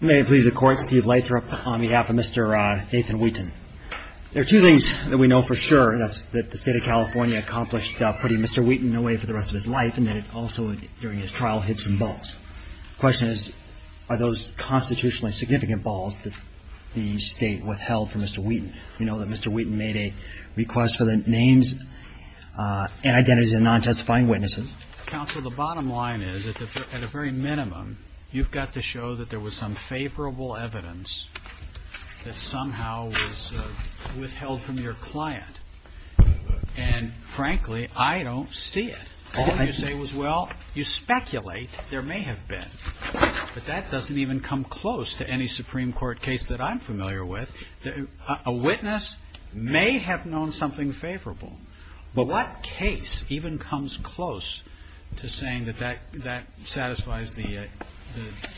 May it please the Court, Steve Leithrup on behalf of Mr. Nathan Wheaton. There are two things that we know for sure, and that's that the state of California accomplished putting Mr. Wheaton away for the rest of his life and that it also during his trial hit some balls. The question is, are those constitutionally significant balls that the state withheld from Mr. Wheaton? We know that Mr. Wheaton made a request for the names and identities of non-testifying witnesses. Counsel, the bottom line is, at a very minimum, you've got to show that there was some favorable evidence that somehow was withheld from your client. And frankly, I don't see it. All I can say is, well, you speculate there may have been. But that doesn't even come close to any Supreme Court case that I'm familiar with. A witness may have known something favorable. But what case even comes close to saying that that satisfies the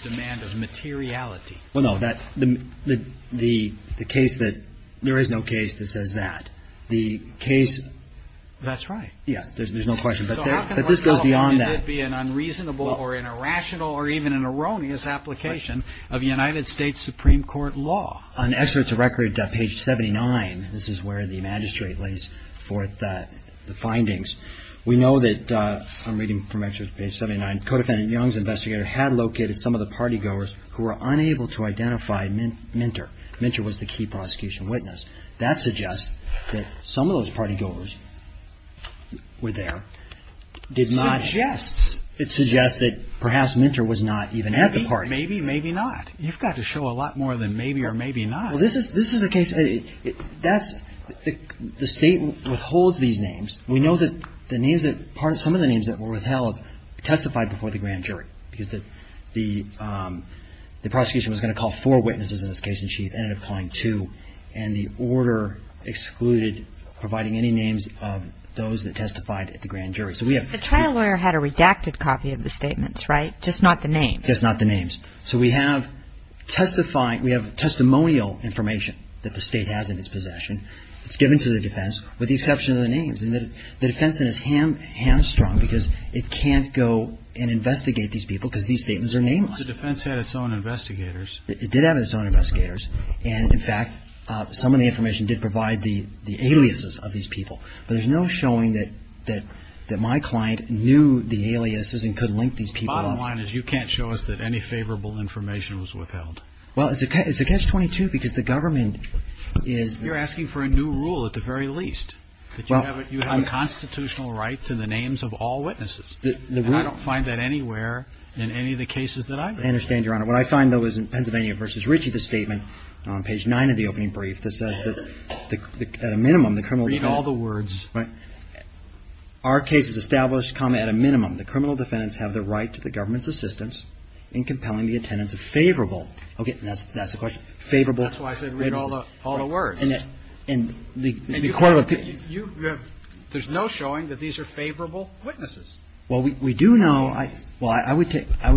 demand of materiality? Well, no, the case that there is no case that says that. The case... That's right. Yes, there's no question. But this goes beyond that. So how can we know whether it be an unreasonable or an irrational or page 79. This is where the magistrate lays forth the findings. We know that, I'm reading from page 79, Codefendant Young's investigator had located some of the partygoers who were unable to identify Minter. Minter was the key prosecution witness. That suggests that some of those partygoers were there. It suggests that perhaps Minter was not even at the party. Maybe, maybe not. You've got to show a lot more than maybe or maybe not. Well, this is a case... That's... The State withholds these names. We know that the names that... Some of the names that were withheld testified before the grand jury. Because the prosecution was going to call four witnesses in this case, and she ended up calling two. And the order excluded providing any names of those that testified at the grand jury. So we have... The trial lawyer had a redacted copy of the statements, right? Just not the names? Just not the names. So we have testifying, we have testimonial information that the State has in its possession. It's given to the defense with the exception of the names. And the defense then is hamstrung because it can't go and investigate these people because these statements are name-lined. The defense had its own investigators. It did have its own investigators. And, in fact, some of the information did provide the aliases of these people. But there's no showing that my client knew the aliases and could link these people up. Bottom line is you can't show us that any favorable information was withheld. Well, it's a catch-22 because the government is... You're asking for a new rule at the very least. That you have unconstitutional rights in the names of all witnesses. And I don't find that anywhere in any of the cases that I've been in. I understand, Your Honor. What I find, though, is in Pennsylvania v. Ritchie, the statement on page 9 of the opening brief that says that at a minimum, the criminal... Read all the words. Our cases established come at a minimum that criminal defendants have the right to the assistance in compelling the attendance of favorable. Okay. That's the question. Favorable... That's why I said read all the words. And the quote of the... You have... There's no showing that these are favorable witnesses. Well, we do know... Well, I would take... I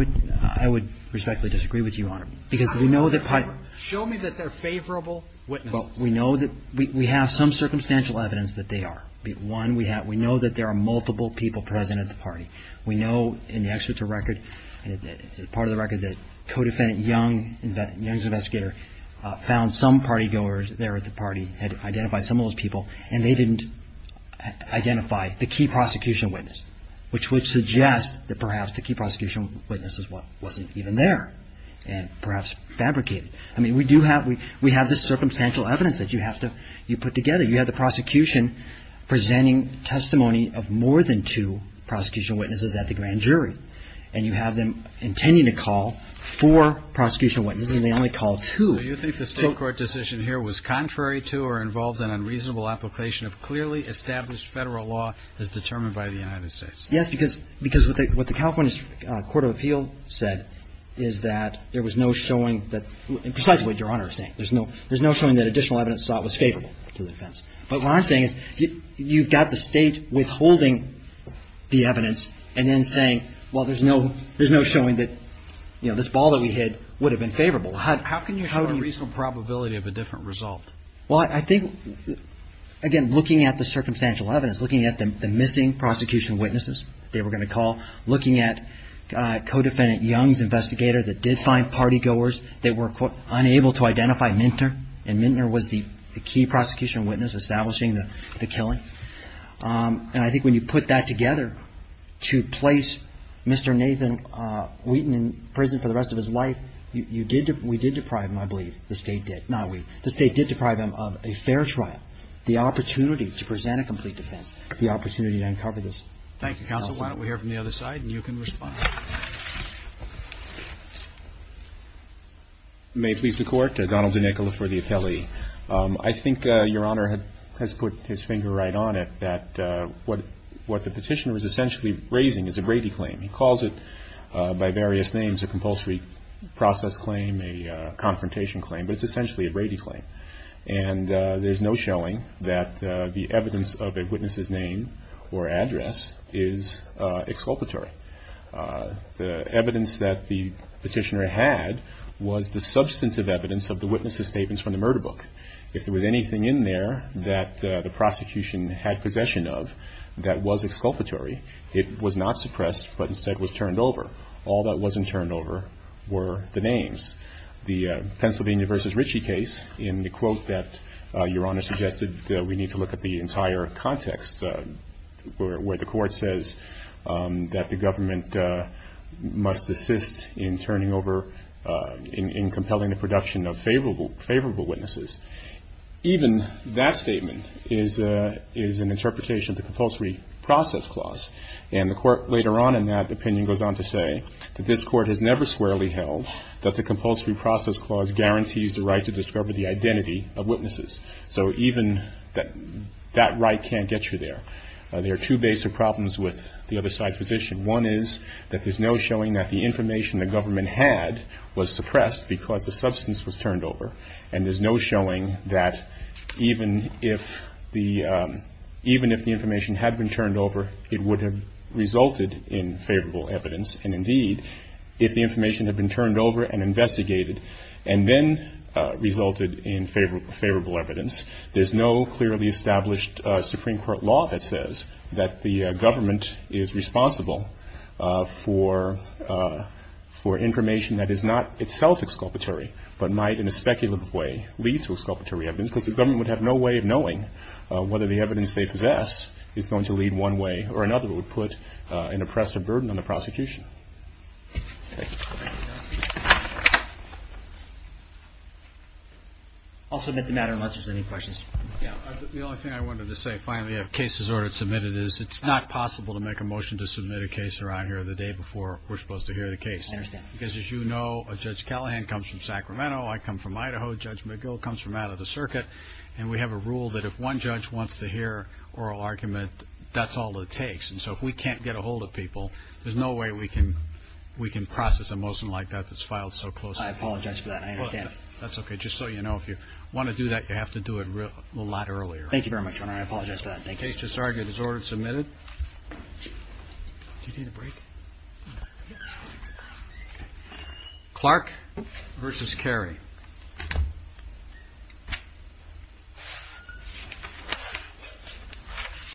would respectfully disagree with you, Your Honor, because we know that... Show me that they're favorable witnesses. Well, we know that... We have some circumstantial evidence that they are. One, we have... We know that there are multiple people present at the party. We know in the excerpt of the record, part of the record, that co-defendant Young, Young's investigator, found some party goers there at the party, had identified some of those people, and they didn't identify the key prosecution witness, which would suggest that perhaps the key prosecution witness is what wasn't even there and perhaps fabricated. I mean, we do have... We have this circumstantial evidence that you have to... You put together. You have the prosecution presenting testimony of more than two prosecution witnesses at the grand jury, and you have them intending to call four prosecution witnesses, and they only called two. So you think the state court decision here was contrary to or involved in unreasonable application of clearly established federal law as determined by the United States? Yes, because what the California Court of Appeal said is that there was no showing that... Precisely what Your Honor is saying. There's no showing that additional evidence sought was favorable to the defense. But what I'm saying is you've got the state withholding the evidence and then saying, well, there's no showing that this ball that we hit would have been favorable. How can you show a reasonable probability of a different result? Well, I think, again, looking at the circumstantial evidence, looking at the missing prosecution witnesses they were going to call, looking at co-defendant Young's investigator that did find party goers that were, quote, unable to identify Mintner, and Mintner was the key prosecution witness establishing the killing. And I think when you put that together to place Mr. Nathan Wheaton in prison for the rest of his life, you did – we did deprive him, I believe, the state did – not we. The state did deprive him of a fair trial, the opportunity to present a complete defense, the opportunity to uncover this. Thank you, counsel. Why don't we hear from the other side, and you can respond. May it please the Court, Donald DeNicola for the appellee. I think Your Honor has put his finger right on it, that what the petitioner is essentially raising is a Brady claim. He calls it by various names, a compulsory process claim, a confrontation claim, but it's essentially a Brady claim. And there's no showing that the evidence of a witness's name or address is exculpatory. The evidence that the petitioner had was the substantive evidence of the witness's statements from the murder book. If there was anything in there that the prosecution had possession of that was exculpatory, it was not suppressed, but instead was turned over. All that wasn't turned over were the names. The Pennsylvania v. Ritchie case, in the quote that Your Honor suggested, we need to look at the entire context where the Court says that the government must assist in turning over, in compelling the production of favorable witnesses. Even that statement is an interpretation of the compulsory process clause. And the Court, later on in that opinion, goes on to say that this Court has never squarely held that the compulsory process clause guarantees the right to discover the identity of witnesses. So even that right can't get you there. There are two basic problems with the other side's position. One is that there's no showing that the information the government had was suppressed because the substance was turned over. And there's no showing that even if the information had been turned over, it would have resulted in favorable evidence. And indeed, if the information had been turned over and investigated, and then resulted in favorable evidence, there's no clearly established Supreme Court law that says that the government is responsible for information that is not itself exculpatory, but might in a speculative way lead to exculpatory evidence. Because the government would have no way of knowing whether the evidence they possess is going to lead one way or another. It would put an oppressive burden on the prosecution. I'll submit the matter unless there's any questions. Yeah. The only thing I wanted to say, finally, if case is ordered and submitted, is it's not possible to make a motion to submit a case around here the day before we're supposed to hear the case. I understand. Because as you know, Judge Callahan comes from Sacramento. I come from Idaho. Judge McGill comes from out of the circuit. And we have a rule that if one judge wants to hear oral argument, that's all it takes. And so if we can't get ahold of people, there's no way we can process a motion like that that's filed so closely. I apologize for that. I understand. That's okay. Just so you know, if you want to do that, you have to do it a lot earlier. Thank you very much, Your Honor. I apologize for that. Thank you. Case just argued is ordered and submitted. Do you need a break? No. Clark v. Carey.